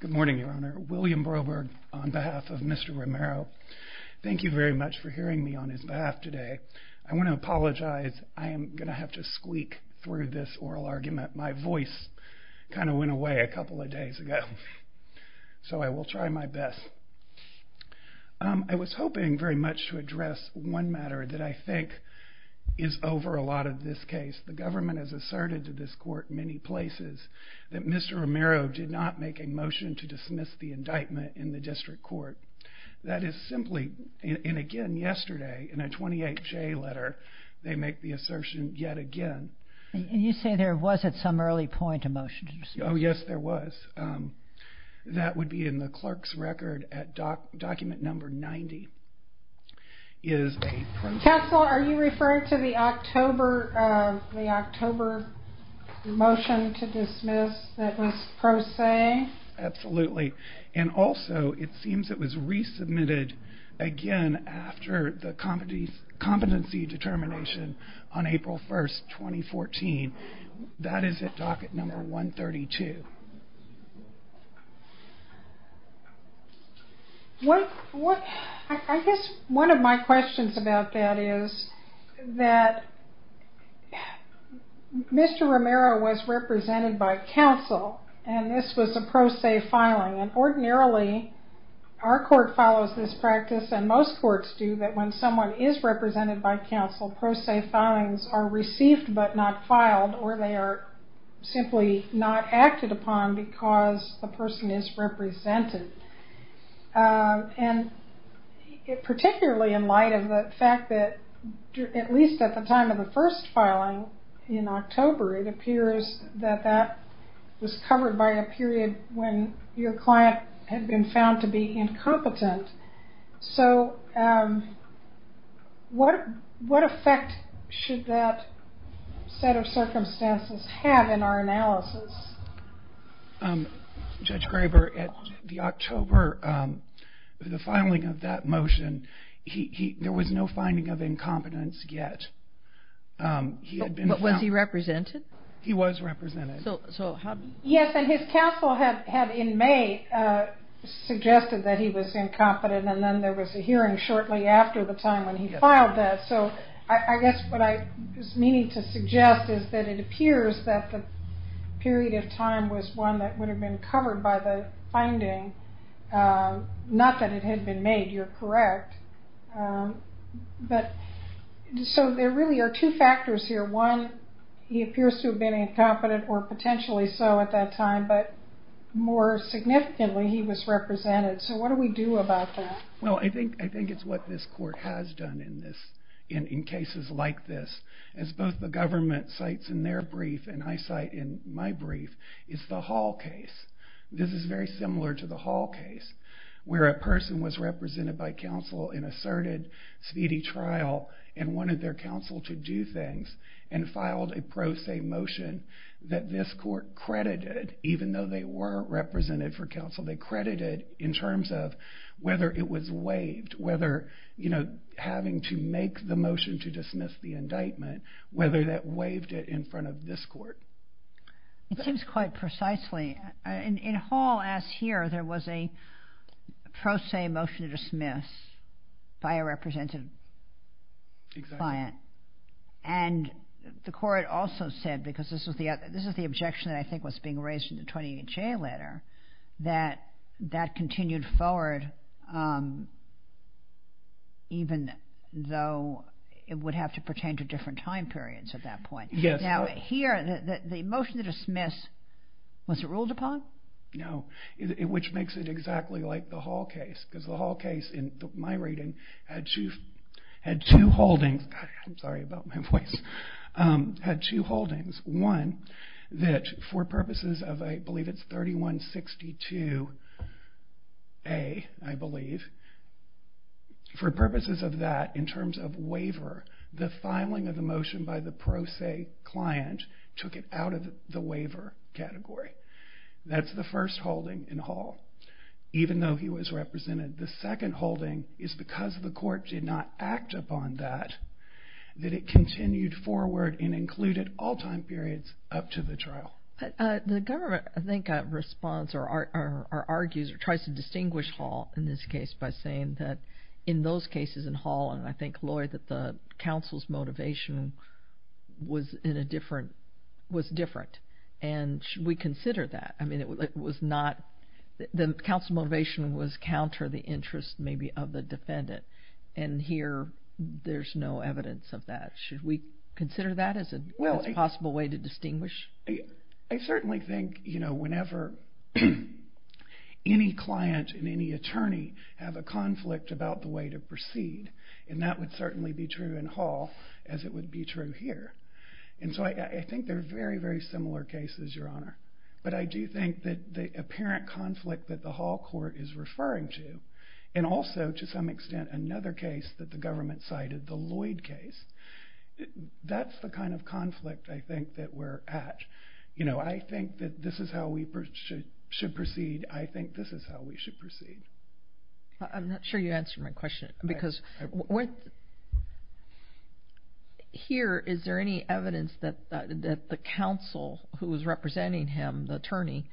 Good morning, Your Honor. William Broberg on behalf of Mr. Romero. Thank you very much for hearing me on his behalf today. I want to apologize. I am going to have to squeak through this oral argument. My voice kind of went away a couple of days ago. So I will try my best. I was hoping very much to address one matter that I think is over a lot of this case. The government has asserted to this court in many places that Mr. Romero did not make a motion to dismiss the indictment in the district court. That is simply, and again yesterday, in a 28-J letter, they make the assertion yet again. And you say there was at some early point a motion to dismiss? Oh yes, there was. That would be in the clerk's record at document number 90. Counsel, are you referring to the October motion to dismiss that was pro se? Absolutely. And also, it seems it was resubmitted again after the competency determination on April 1st, 2014. That is at docket number 132. I guess one of my questions about that is that Mr. Romero was represented by counsel and this was a pro se filing. And ordinarily, our court follows this practice and most courts do, that when someone is represented by counsel, pro se filings are received but not filed or they are simply not acted upon because the person is represented. And particularly in light of the fact that, at least at the time of the first filing in October, it appears that that was covered by a period when your client had been found to be incompetent. So what effect should that set of circumstances have in our analysis? Judge Graber, at the October, the filing of that motion, there was no finding of incompetence yet. But was he represented? He was represented. Yes, and his counsel had in May suggested that he was incompetent and then there was a hearing shortly after the time when he filed that. So I guess what I was meaning to suggest is that it appears that the period of time was one that would have been covered by the finding. Not that it had been made, you're correct. So there really are two factors here. One, he appears to have been incompetent or potentially so at that time, but more significantly, he was represented. So what do we do about that? Well, I think it's what this court has done in cases like this. As both the government cites in their brief and I cite in my brief, it's the Hall case. This is very similar to the Hall case where a person was represented by counsel in asserted speedy trial and wanted their counsel to do things and filed a pro se motion that this court credited, even though they weren't represented for counsel, they credited in terms of whether it was waived, whether having to make the motion to dismiss the indictment, whether that waived it in front of this court. It seems quite precisely. In Hall, as here, there was a pro se motion to dismiss by a represented client. And the court also said, because this was the objection that I think was being raised in the 20HA letter, that that continued forward even though it would have to pertain to different time periods at that point. Now, here, the motion to dismiss, was it ruled upon? No, which makes it exactly like the Hall case, because the Hall case, in my reading, had two holdings. I'm sorry about my voice. Had two holdings. One, that for purposes of, I believe it's 3162A, I believe, for purposes of that, in terms of waiver, the filing of the motion by the pro se client took it out of the waiver category. That's the first holding in Hall, even though he was represented. The second holding is because the court did not act upon that, that it continued forward and included all time periods up to the trial. The government, I think, responds or argues or tries to distinguish Hall in this case by saying that in those cases in Hall, and I think, Lloyd, that the counsel's motivation was different. And should we consider that? I mean, it was not, the counsel motivation was counter the interest, maybe, of the defendant. And here, there's no evidence of that. Should we consider that as a possible way to distinguish? I certainly think, you know, whenever any client and any attorney have a conflict about the way to proceed, and that would certainly be true in Hall, as it would be true here. And so I think they're very, very similar cases, Your Honor. But I do think that the apparent conflict that the Hall court is referring to, and also, to some extent, another case that the government cited, the Lloyd case, that's the kind of conflict, I think, that we're at. You know, I think that this is how we should proceed. I think this is how we should proceed. I'm not sure you answered my question because here, is there any evidence that the counsel who was representing him, the attorney,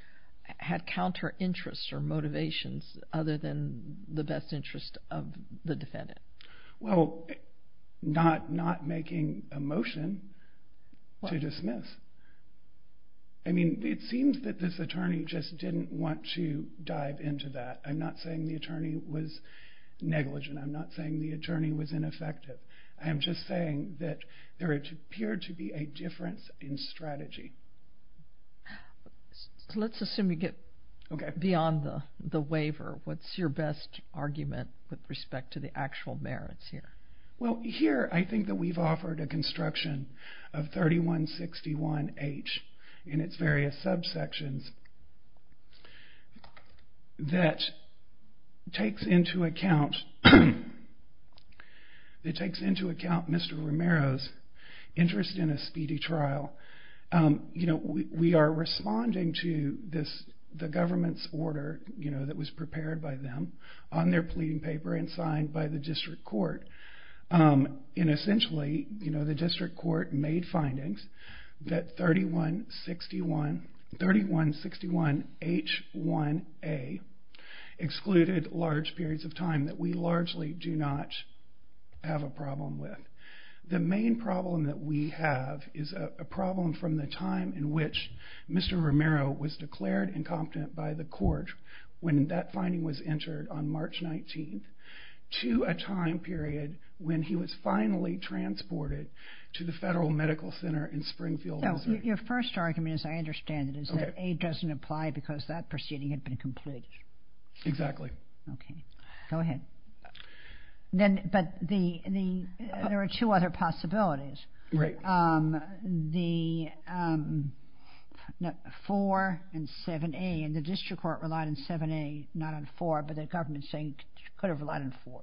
had counter interests or motivations other than the best interest of the defendant? Well, not making a motion to dismiss. I mean, it seems that this attorney just didn't want to dive into that. I'm not saying the attorney was negligent. I'm not saying the attorney was ineffective. I'm just saying that there appeared to be a difference in strategy. Let's assume you get beyond the waiver. What's your best argument with respect to the actual merits here? Well, here, I think that we've offered a construction of 3161H and its various subsections that takes into account Mr. Romero's interest in a speedy trial. We are responding to the government's order that was prepared by them on their pleading paper and signed by the district court. Essentially, the district court made findings that 3161H1A excluded large periods of time that we largely do not have a problem with. The main problem that we have is a problem from the time in which Mr. Romero was declared incompetent by the court when that finding was entered on March 19th to a time period when he was finally transported to the Federal Medical Center in Springfield, Missouri. Your first argument, as I understand it, is that A doesn't apply because that proceeding had been completed. Exactly. Okay. Go ahead. But there are two other possibilities. Right. The 4 and 7A, and the district court relied on 7A, not on 4, but the government's saying it could have relied on 4.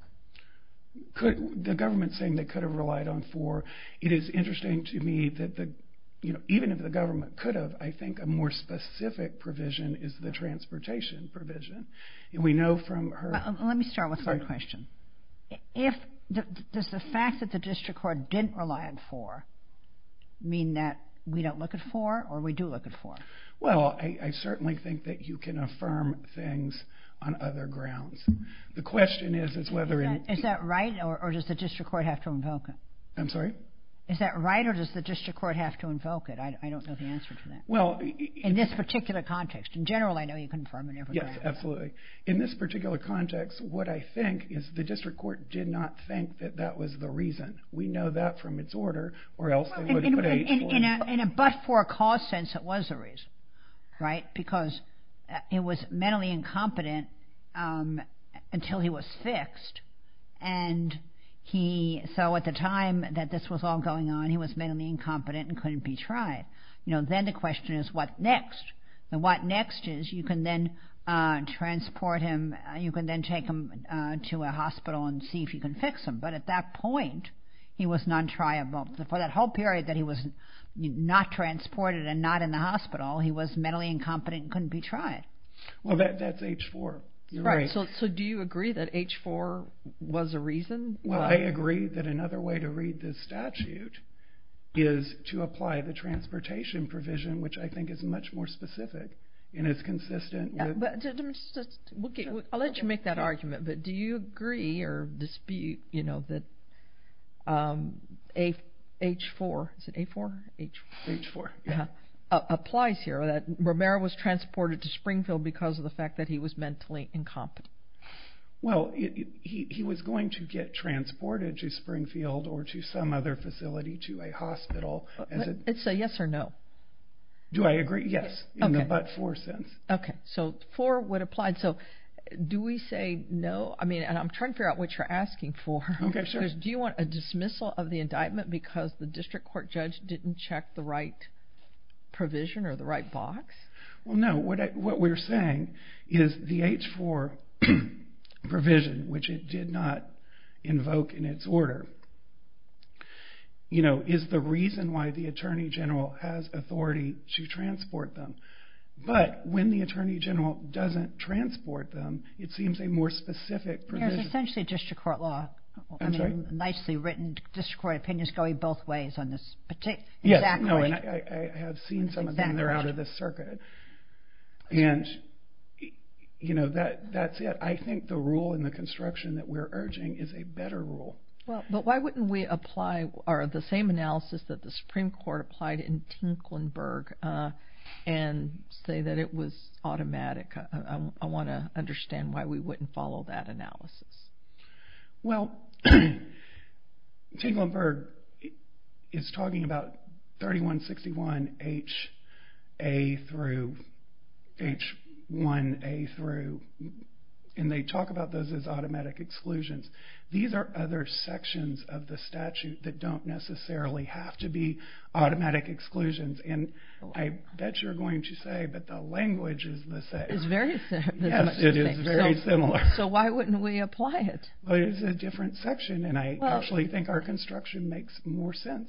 The government's saying they could have relied on 4. It is interesting to me that even if the government could have, I think a more specific provision is the transportation provision. Let me start with one question. Does the fact that the district court didn't rely on 4 mean that we don't look at 4 or we do look at 4? Well, I certainly think that you can affirm things on other grounds. The question is whether in- Is that right or does the district court have to invoke it? I'm sorry? Is that right or does the district court have to invoke it? I don't know the answer to that. In this particular context. In general, I know you can affirm it. Yes, absolutely. In this particular context, what I think is the district court did not think that that was the reason. We know that from its order or else they would have put an H4. But for a cause sense, it was the reason, right? Because it was mentally incompetent until he was fixed, and so at the time that this was all going on, he was mentally incompetent and couldn't be tried. Then the question is what next? What next is you can then transport him, you can then take him to a hospital and see if you can fix him. But at that point, he was non-triable. For that whole period that he was not transported and not in the hospital, he was mentally incompetent and couldn't be tried. Well, that's H4. Right. So do you agree that H4 was a reason? Well, I agree that another way to read this statute is to apply the I'll let you make that argument, but do you agree or dispute that H4 applies here, that Romero was transported to Springfield because of the fact that he was mentally incompetent? Well, he was going to get transported to Springfield or to some other facility, to a hospital. It's a yes or no. Do I agree? Yes, in the but for sense. Okay. So for what applied. So do we say no? I mean, and I'm trying to figure out what you're asking for. Okay, sure. Do you want a dismissal of the indictment because the district court judge didn't check the right provision or the right box? Well, no. What we're saying is the H4 provision, which it did not invoke in its order, is the reason why the attorney general has authority to transport them. But when the attorney general doesn't transport them, it seems a more specific provision. It's essentially district court law. I'm sorry? I mean, nicely written district court opinions going both ways on this. Yes. Exactly. I have seen some of them. They're out of the circuit. And that's it. I think the rule in the construction that we're urging is a better rule. But why wouldn't we apply the same analysis that the Supreme Court applied in Tinklenburg and say that it was automatic? I want to understand why we wouldn't follow that analysis. Well, Tinklenburg is talking about 3161HA through H1A through, and they talk about those as automatic exclusions. These are other sections of the statute that don't necessarily have to be automatic exclusions. And I bet you're going to say, but the language is the same. It's very similar. Yes, it is very similar. So why wouldn't we apply it? Well, it's a different section, and I actually think our construction makes more sense.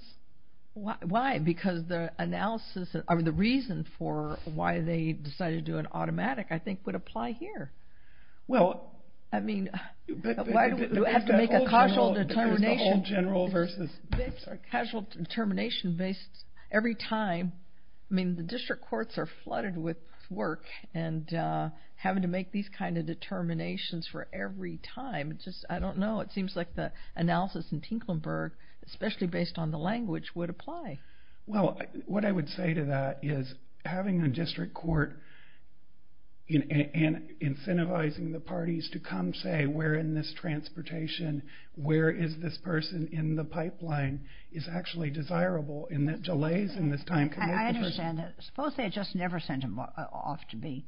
Why? Because the analysis or the reason for why they decided to do it automatic, I think, would apply here. I mean, why do we have to make a casual determination every time? I mean, the district courts are flooded with work and having to make these kind of determinations for every time. I don't know. It seems like the analysis in Tinklenburg, especially based on the language, would apply. Well, what I would say to that is having a district court and incentivizing the parties to come say we're in this transportation, where is this person in the pipeline is actually desirable and that delays in this time commitment. I understand that. Suppose they just never sent him off to be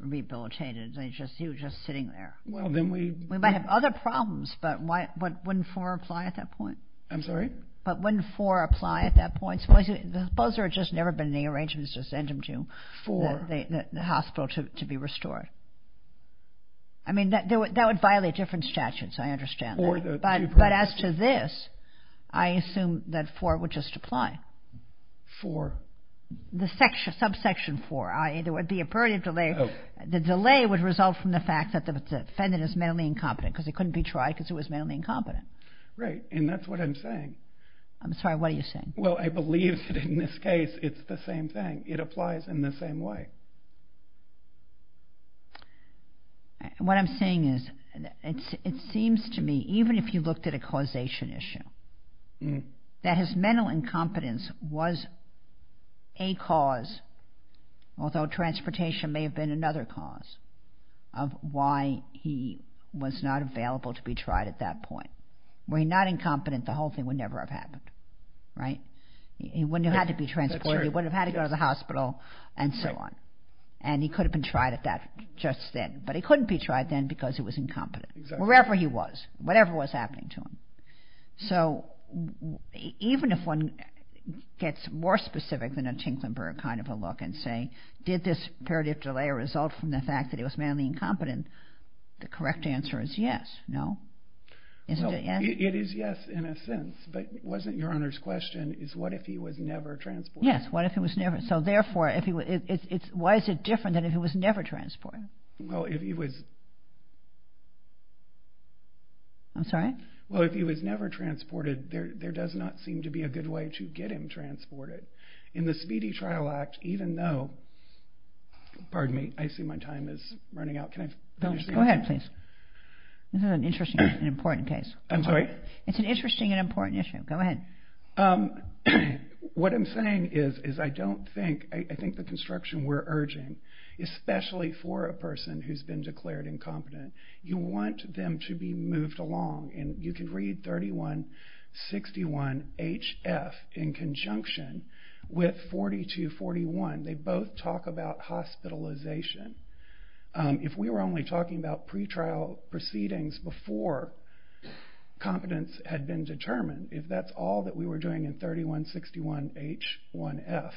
rehabilitated. He was just sitting there. We might have other problems, but wouldn't 4 apply at that point? I'm sorry? But wouldn't 4 apply at that point? Suppose there had just never been any arrangements to send him to the hospital to be restored. I mean, that would violate different statutes, I understand. But as to this, I assume that 4 would just apply. 4? The subsection 4. There would be a period of delay. The delay would result from the fact that the defendant is mentally incompetent because he couldn't be tried because he was mentally incompetent. Right, and that's what I'm saying. I'm sorry, what are you saying? Well, I believe that in this case it's the same thing. It applies in the same way. What I'm saying is it seems to me, even if you looked at a causation issue, that his mental incompetence was a cause, although transportation may have been another cause, of why he was not available to be tried at that point. Were he not incompetent, the whole thing would never have happened. Right? He wouldn't have had to be transported. He wouldn't have had to go to the hospital and so on. And he could have been tried at that just then, but he couldn't be tried then because he was incompetent, wherever he was, whatever was happening to him. So even if one gets more specific than a Tinklenburg kind of a look and say, did this peritif delay result from the fact that he was mentally incompetent, the correct answer is yes. No? Well, it is yes in a sense, but wasn't Your Honor's question, is what if he was never transported? Yes, what if he was never transported. So therefore, why is it different than if he was never transported? Well, if he was never transported, there does not seem to be a good way to get him transported. In the Speedy Trial Act, even though, pardon me, I see my time is running out. Go ahead, please. This is an interesting and important case. I'm sorry? It's an interesting and important issue. Go ahead. What I'm saying is I don't think, I think the construction we're urging, especially for a person who's been declared incompetent, you want them to be moved along. And you can read 3161HF in conjunction with 4241. They both talk about hospitalization. If we were only talking about pretrial proceedings before competence had been determined, if that's all that we were doing in 3161H1F,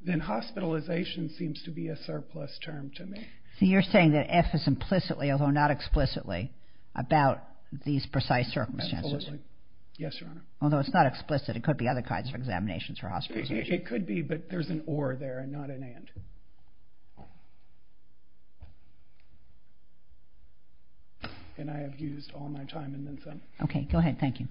then hospitalization seems to be a surplus term to me. So you're saying that F is implicitly, although not explicitly, about these precise circumstances? Absolutely. Yes, Your Honor. Although it's not explicit. It could be other kinds of examinations for hospitalization. It could be, but there's an or there and not an and. And I have used all my time and then some. Okay. Go ahead. Thank you.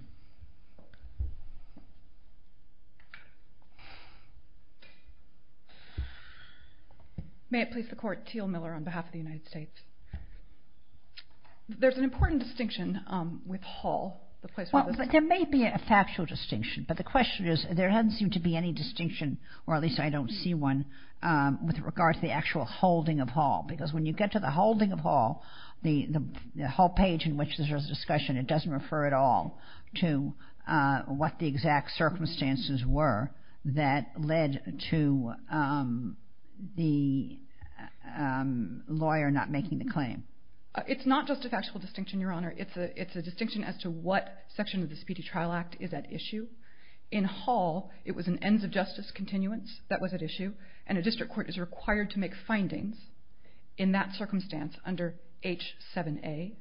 May it please the Court. Teal Miller on behalf of the United States. There's an important distinction with Hall. There may be a factual distinction, but the question is there doesn't seem to be any distinction, or at least I don't see one, with regard to the actual holding of Hall. Because when you get to the holding of Hall, the whole page in which there's a discussion, it doesn't refer at all to what the exact circumstances were that led to the lawyer not making the claim. It's not just a factual distinction, Your Honor. It's a distinction as to what section of the Speedy Trial Act is at issue. In Hall, it was an ends of justice continuance that was at issue, and a district court is required to make findings in that circumstance under H7A.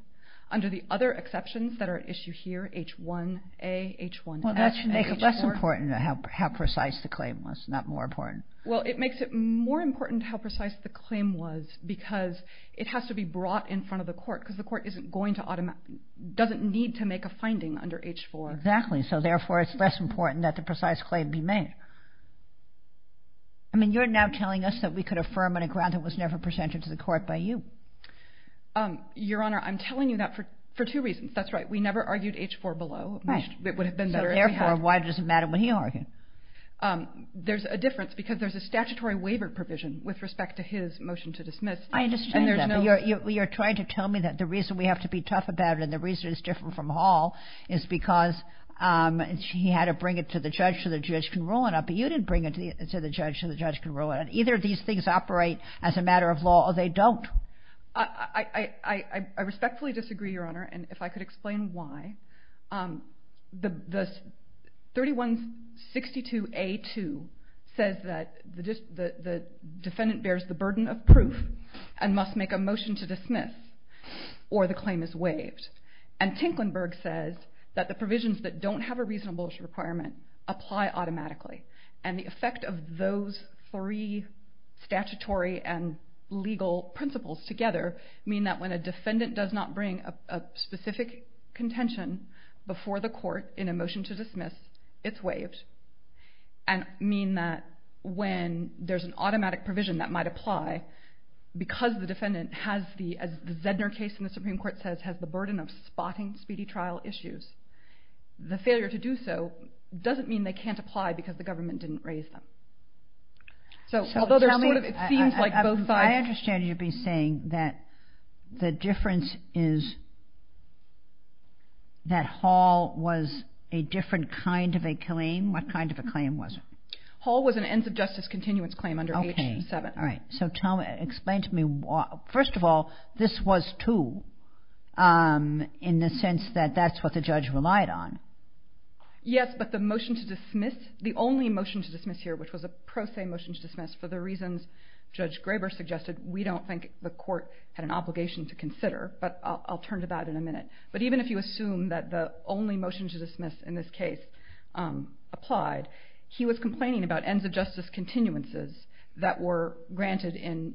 Under the other exceptions that are at issue here, H1A, H1F, H4. Well, that should make it less important how precise the claim was, not more important. Well, it makes it more important how precise the claim was because it has to be brought in front of the court because the court doesn't need to make a finding under H4. Exactly. So, therefore, it's less important that the precise claim be made. I mean, you're now telling us that we could affirm on a ground that was never presented to the court by you. Your Honor, I'm telling you that for two reasons. That's right. We never argued H4 below. Right. It would have been better if we had. So, therefore, why does it matter what he argued? There's a difference because there's a statutory waiver provision with respect to his motion to dismiss. I understand that. But you're trying to tell me that the reason we have to be tough about it and the reason it's different from Hall is because he had to bring it to the judge so the judge can rule it out, but you didn't bring it to the judge so the judge can rule it out. Either these things operate as a matter of law or they don't. I respectfully disagree, Your Honor, and if I could explain why. The 3162A2 says that the defendant bears the burden of proof and must make a motion to dismiss or the claim is waived. And Tinklenburg says that the provisions that don't have a reasonable requirement apply automatically. And the effect of those three statutory and legal principles together mean that when a defendant does not bring a specific contention before the court in a motion to dismiss, it's waived and mean that when there's an automatic provision that might apply because the defendant has the, as the Zedner case in the Supreme Court says, has the burden of spotting speedy trial issues, the failure to do so doesn't mean they can't apply because the government didn't raise them. So although there's sort of, it seems like both sides. I understand you'd be saying that the difference is that Hall was a different kind of a claim. What kind of a claim was it? Hall was an ends of justice continuance claim under H7. Okay. All right. So tell me, explain to me, first of all, this was two in the sense that that's what the judge relied on. Yes, but the motion to dismiss, the only motion to dismiss here, which was a pro se motion to dismiss for the reasons Judge Graber suggested, we don't think the court had an obligation to consider, but I'll turn to that in a minute. But even if you assume that the only motion to dismiss in this case applied, he was complaining about ends of justice continuances that were granted in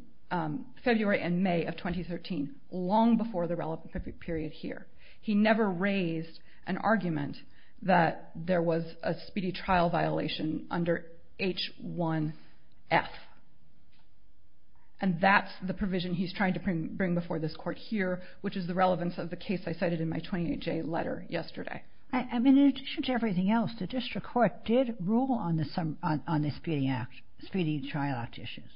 February and May of 2013, long before the relevant period here. He never raised an argument that there was a speedy trial violation under H1F. And that's the provision he's trying to bring before this court here, which is the relevance of the case I cited in my 28-J letter yesterday. I mean, in addition to everything else, the district court did rule on the speeding trial act issues.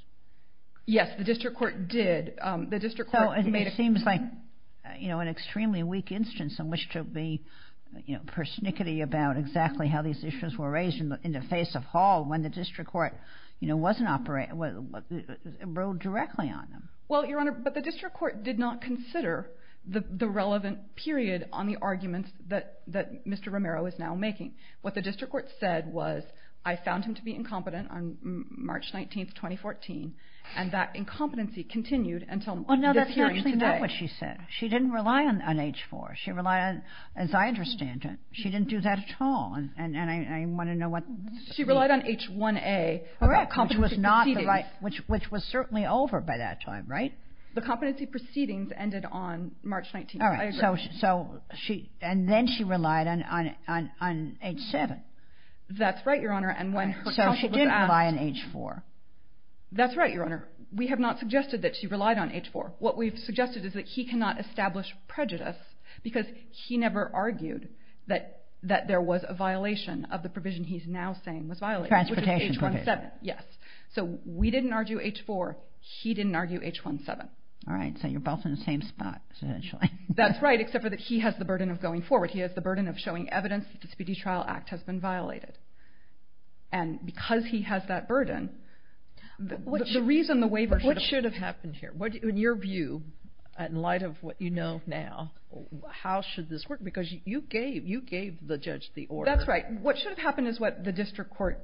Yes, the district court did. It seems like an extremely weak instance in which to be persnickety about exactly how these issues were raised in the face of Hall when the district court rode directly on them. Well, Your Honor, but the district court did not consider the relevant period on the arguments that Mr. Romero is now making. What the district court said was, I found him to be incompetent on March 19, 2014, and that incompetency continued until this hearing today. Well, no, that's actually not what she said. She didn't rely on H4. She relied on, as I understand it, she didn't do that at all. And I want to know what's the reason. She relied on H1A about competency proceedings. Correct, which was certainly over by that time, right? The competency proceedings ended on March 19. All right. I agree. And then she relied on H7. That's right, Your Honor. So she didn't rely on H4. That's right, Your Honor. We have not suggested that she relied on H4. What we've suggested is that he cannot establish prejudice because he never argued that there was a violation of the provision he's now saying was violated, which is H17. Transportation provision. Yes. So we didn't argue H4. He didn't argue H17. All right. So you're both in the same spot, essentially. That's right, except for that he has the burden of going forward. He has the burden of showing evidence that the Disputee Trial Act has been violated. And because he has that burden, the reason the waiver should have happened here, in your view, in light of what you know now, how should this work? Because you gave the judge the order. That's right. What should have happened is what the District Court,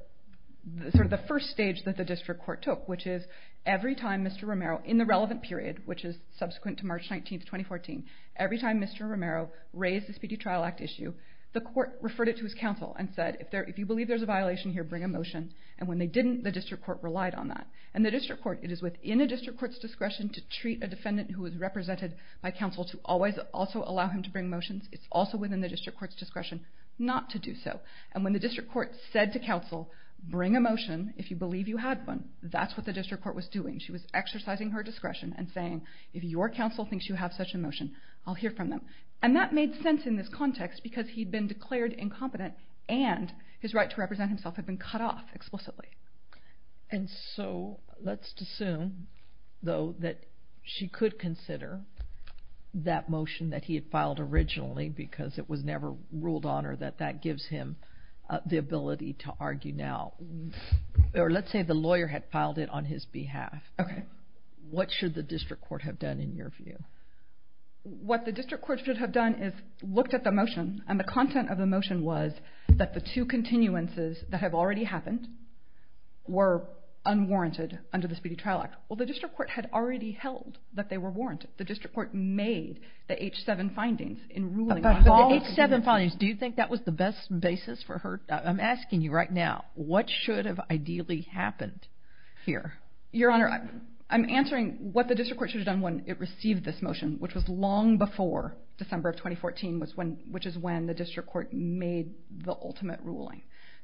sort of the first stage that the District Court took, which is every time Mr. Romero, in the relevant period, which is subsequent to March 19, 2014, every time Mr. Romero raised the Disputee Trial Act issue, the court referred it to his counsel and said, if you believe there's a violation here, bring a motion. And when they didn't, the District Court relied on that. And the District Court, it is within a District Court's discretion to treat a defendant who is represented by counsel to always also allow him to bring motions. It's also within the District Court's discretion not to do so. And when the District Court said to counsel, bring a motion, if you believe you had one, that's what the District Court was doing. She was exercising her discretion and saying, if your counsel thinks you have such a motion, I'll hear from them. And that made sense in this context because he'd been declared incompetent and his right to represent himself had been cut off explicitly. And so let's assume, though, that she could consider that motion that he had filed originally because it was never ruled on her that that gives him the ability to argue now. Or let's say the lawyer had filed it on his behalf. Okay. What should the District Court have done, in your view? What the District Court should have done is looked at the motion and the content of the motion was that the two continuances that have already happened were unwarranted under the Speedy Trial Act. Well, the District Court had already held that they were warranted. The District Court made the H-7 findings in ruling on her. But the H-7 findings, do you think that was the best basis for her? I'm asking you right now. What should have ideally happened here? Your Honor, I'm answering what the District Court should have done when it received this motion, which was long before December of 2014, which is when the District Court made the ultimate ruling.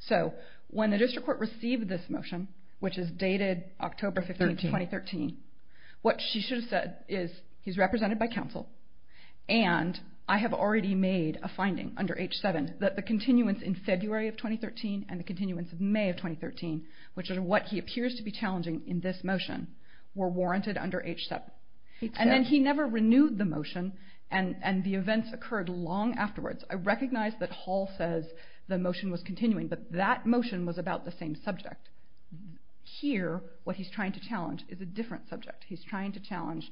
So when the District Court received this motion, which is dated October 15, 2013, what she should have said is he's represented by counsel and I have already made a finding under H-7 that the continuance in February of 2013 and the continuance in May of 2013, which is what he appears to be challenging in this motion, were warranted under H-7. And then he never renewed the motion and the events occurred long afterwards. I recognize that Hall says the motion was continuing, but that motion was about the same subject. Here, what he's trying to challenge is a different subject. He's trying to challenge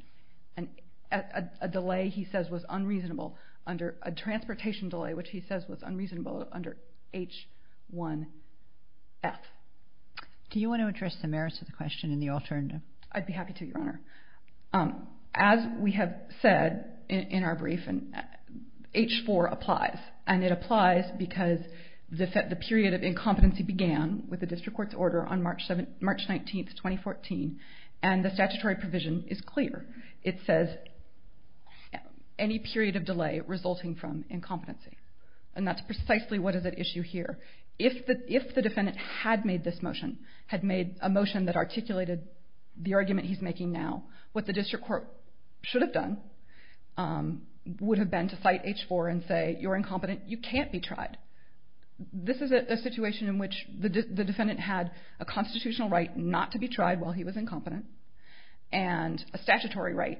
a delay he says was unreasonable under a transportation delay, which he says was unreasonable under H-1F. Do you want to address the merits of the question and the alternative? I'd be happy to, Your Honor. As we have said in our brief, H-4 applies, and it applies because the period of incompetency began with the District Court's order on March 19, 2014, and the statutory provision is clear. It says any period of delay resulting from incompetency, and that's precisely what is at issue here. If the defendant had made this motion, had made a motion that articulated the argument he's making now, what the District Court should have done would have been to cite H-4 and say you're incompetent, you can't be tried. This is a situation in which the defendant had a constitutional right not to be tried while he was incompetent and a statutory right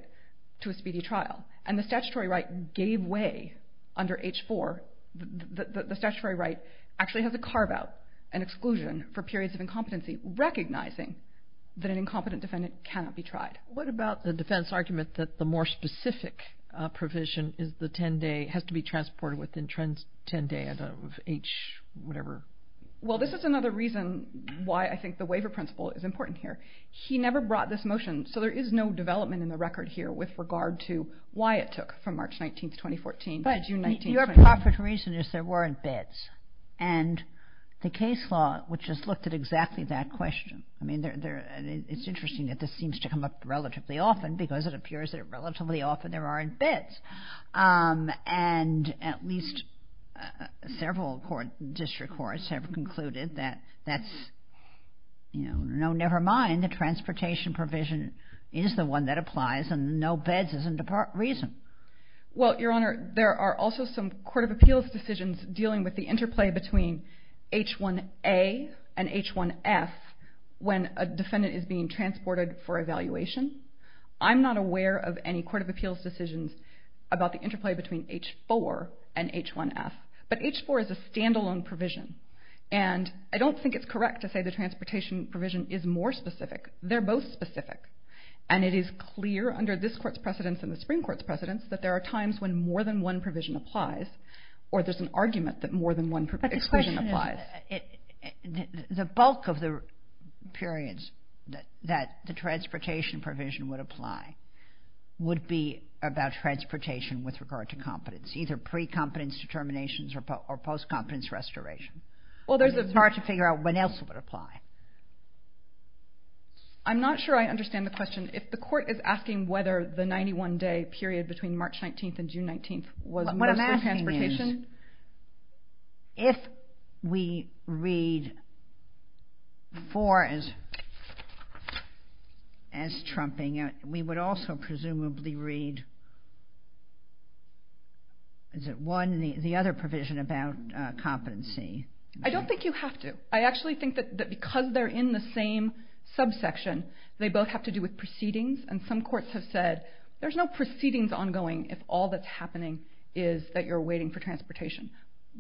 to a speedy trial, and the statutory right gave way under H-4. The statutory right actually has a carve-out, an exclusion for periods of incompetency recognizing that an incompetent defendant cannot be tried. What about the defense argument that the more specific provision has to be transported within 10 days of H-whatever? Well, this is another reason why I think the waiver principle is important here. He never brought this motion, so there is no development in the record here with regard to why it took from March 19, 2014 to June 19, 2014. But your proper reason is there weren't bids, and the case law, which has looked at exactly that question, I mean, it's interesting that this seems to come up relatively often because it appears that relatively often there aren't bids, and at least several District Courts have concluded that that's, you know, never mind the transportation provision is the one that applies and no bids isn't the reason. Well, Your Honor, there are also some Court of Appeals decisions dealing with the interplay between H-1A and H-1F when a defendant is being transported for evaluation. I'm not aware of any Court of Appeals decisions about the interplay between H-4 and H-1F, but H-4 is a standalone provision, and I don't think it's correct to say the transportation provision is more specific. They're both specific, and it is clear under this Court's precedence and the Supreme Court's precedence that there are times when more than one provision applies or there's an argument that more than one provision applies. But the question is the bulk of the periods that the transportation provision would apply would be about transportation with regard to competence, either pre-competence determinations or post-competence restoration. It's hard to figure out when else it would apply. I'm not sure I understand the question. If the court is asking whether the 91-day period between March 19th and June 19th was mostly transportation... What I'm asking is if we read H-4 as trumping it, we would also presumably read the other provision about competency. I don't think you have to. I actually think that because they're in the same subsection, they both have to do with proceedings, and some courts have said there's no proceedings ongoing if all that's happening is that you're waiting for transportation.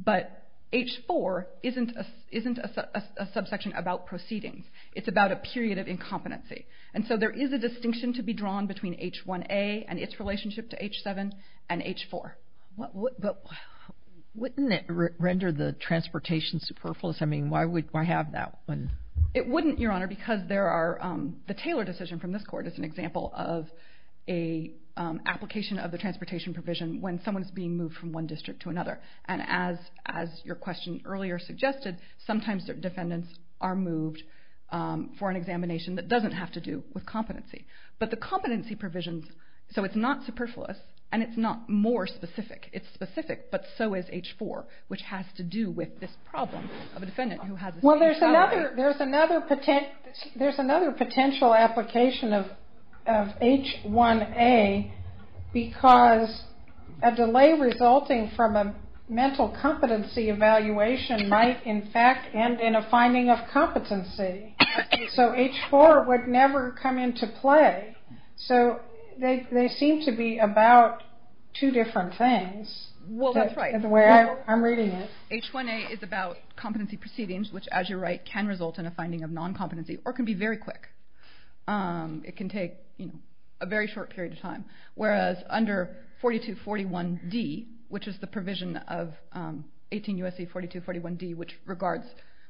But H-4 isn't a subsection about proceedings. It's about a period of incompetency. And so there is a distinction to be drawn between H-1A and its relationship to H-7 and H-4. But wouldn't it render the transportation superfluous? I mean, why have that one? It wouldn't, Your Honor, because there are... The Taylor decision from this court is an example of an application of the transportation provision when someone's being moved from one district to another. And as your question earlier suggested, sometimes certain defendants are moved for an examination that doesn't have to do with competency. But the competency provisions... So it's not superfluous, and it's not more specific. It's specific, but so is H-4, which has to do with this problem of a defendant who has... Well, there's another potential application of H-1A because a delay resulting from a mental competency evaluation might, in fact, end in a finding of competency. So H-4 would never come into play. So they seem to be about two different things. Well, that's right. I'm reading it. H-1A is about competency proceedings, which, as you're right, can result in a finding of non-competency or can be very quick. It can take a very short period of time. Whereas under 4241D, which is the provision of 18 U.S.C. 4241D, which regards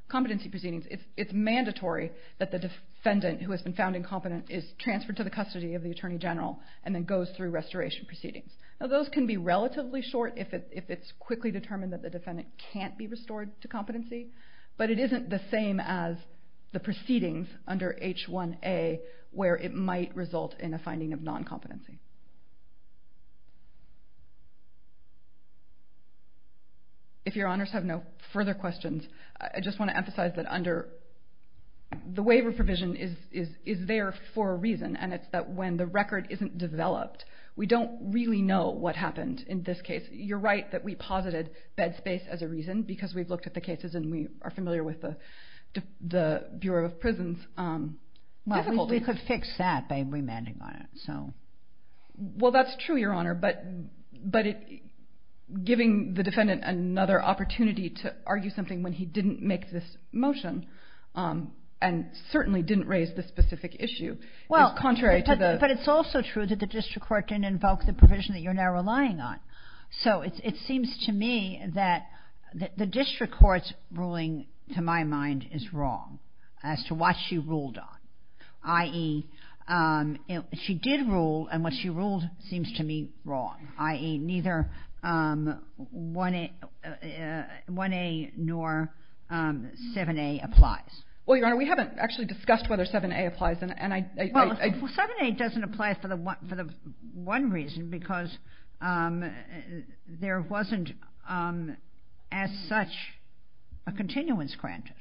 competency proceedings, it's mandatory that the defendant who has been found incompetent is transferred to the custody of the attorney general and then goes through restoration proceedings. Now, those can be relatively short if it's quickly determined that the defendant can't be restored to competency, but it isn't the same as the proceedings under H-1A where it might result in a finding of non-competency. If your honors have no further questions, I just want to emphasize that under... The waiver provision is there for a reason, and it's that when the record isn't developed, we don't really know what happened in this case. You're right that we posited bed space as a reason because we've looked at the cases and we are familiar with the Bureau of Prisons difficulties. We could fix that by remanding on it. Well, that's true, Your Honor, but giving the defendant another opportunity to argue something when he didn't make this motion and certainly didn't raise this specific issue is contrary to the... But it's also true that the district court didn't invoke the provision that you're now relying on. So it seems to me that the district court's ruling, to my mind, is wrong as to what she ruled on, i.e., she did rule, and what she ruled seems to me wrong, i.e., neither 1A nor 7A applies. Well, Your Honor, we haven't actually discussed whether 7A applies, and I... Well, 7A doesn't apply for the one reason because there wasn't as such a continuance granted.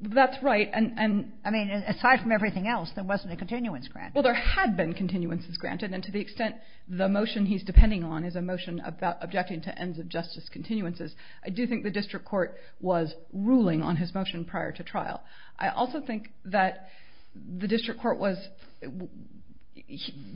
That's right, and... I mean, aside from everything else, there wasn't a continuance granted. Well, there had been continuances granted, and to the extent the motion he's depending on is a motion about objecting to ends of justice continuances, I do think the district court was ruling on his motion prior to trial. I also think that the district court was...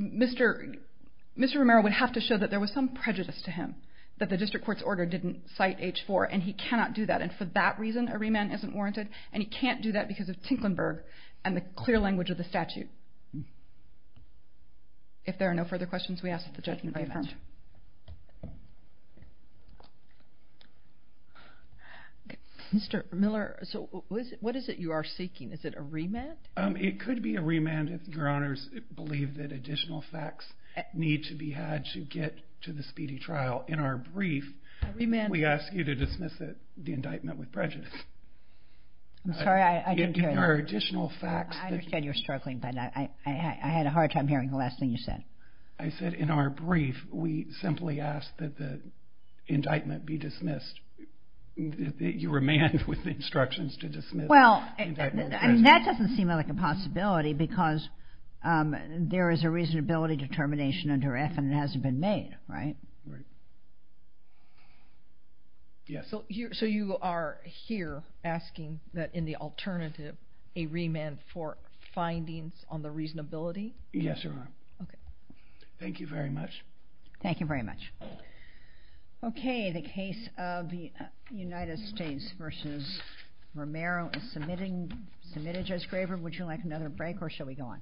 Mr. Romero would have to show that there was some prejudice to him that the district court's order didn't cite H4, and he cannot do that, and for that reason a remand isn't warranted, and he can't do that because of Tinklenburg and the clear language of the statute. If there are no further questions, we ask that the judgment be affirmed. Mr. Miller, so what is it you are seeking? Is it a remand? It could be a remand if your honors believe that additional facts need to be had to get to the speedy trial. In our brief, we ask you to dismiss it, the indictment with prejudice. I'm sorry, I didn't hear you. If there are additional facts... I understand you're struggling, I said in our brief, we ask you to dismiss it and we simply ask that the indictment be dismissed. You remand with instructions to dismiss... Well, that doesn't seem like a possibility because there is a reasonability determination under F and it hasn't been made, right? So you are here asking that in the alternative, a remand for findings on the reasonability? Yes, Your Honor. Thank you very much. Thank you very much. Okay, the case of the United States v. Romero is submitted, Judge Graber. Would you like another break or shall we go on?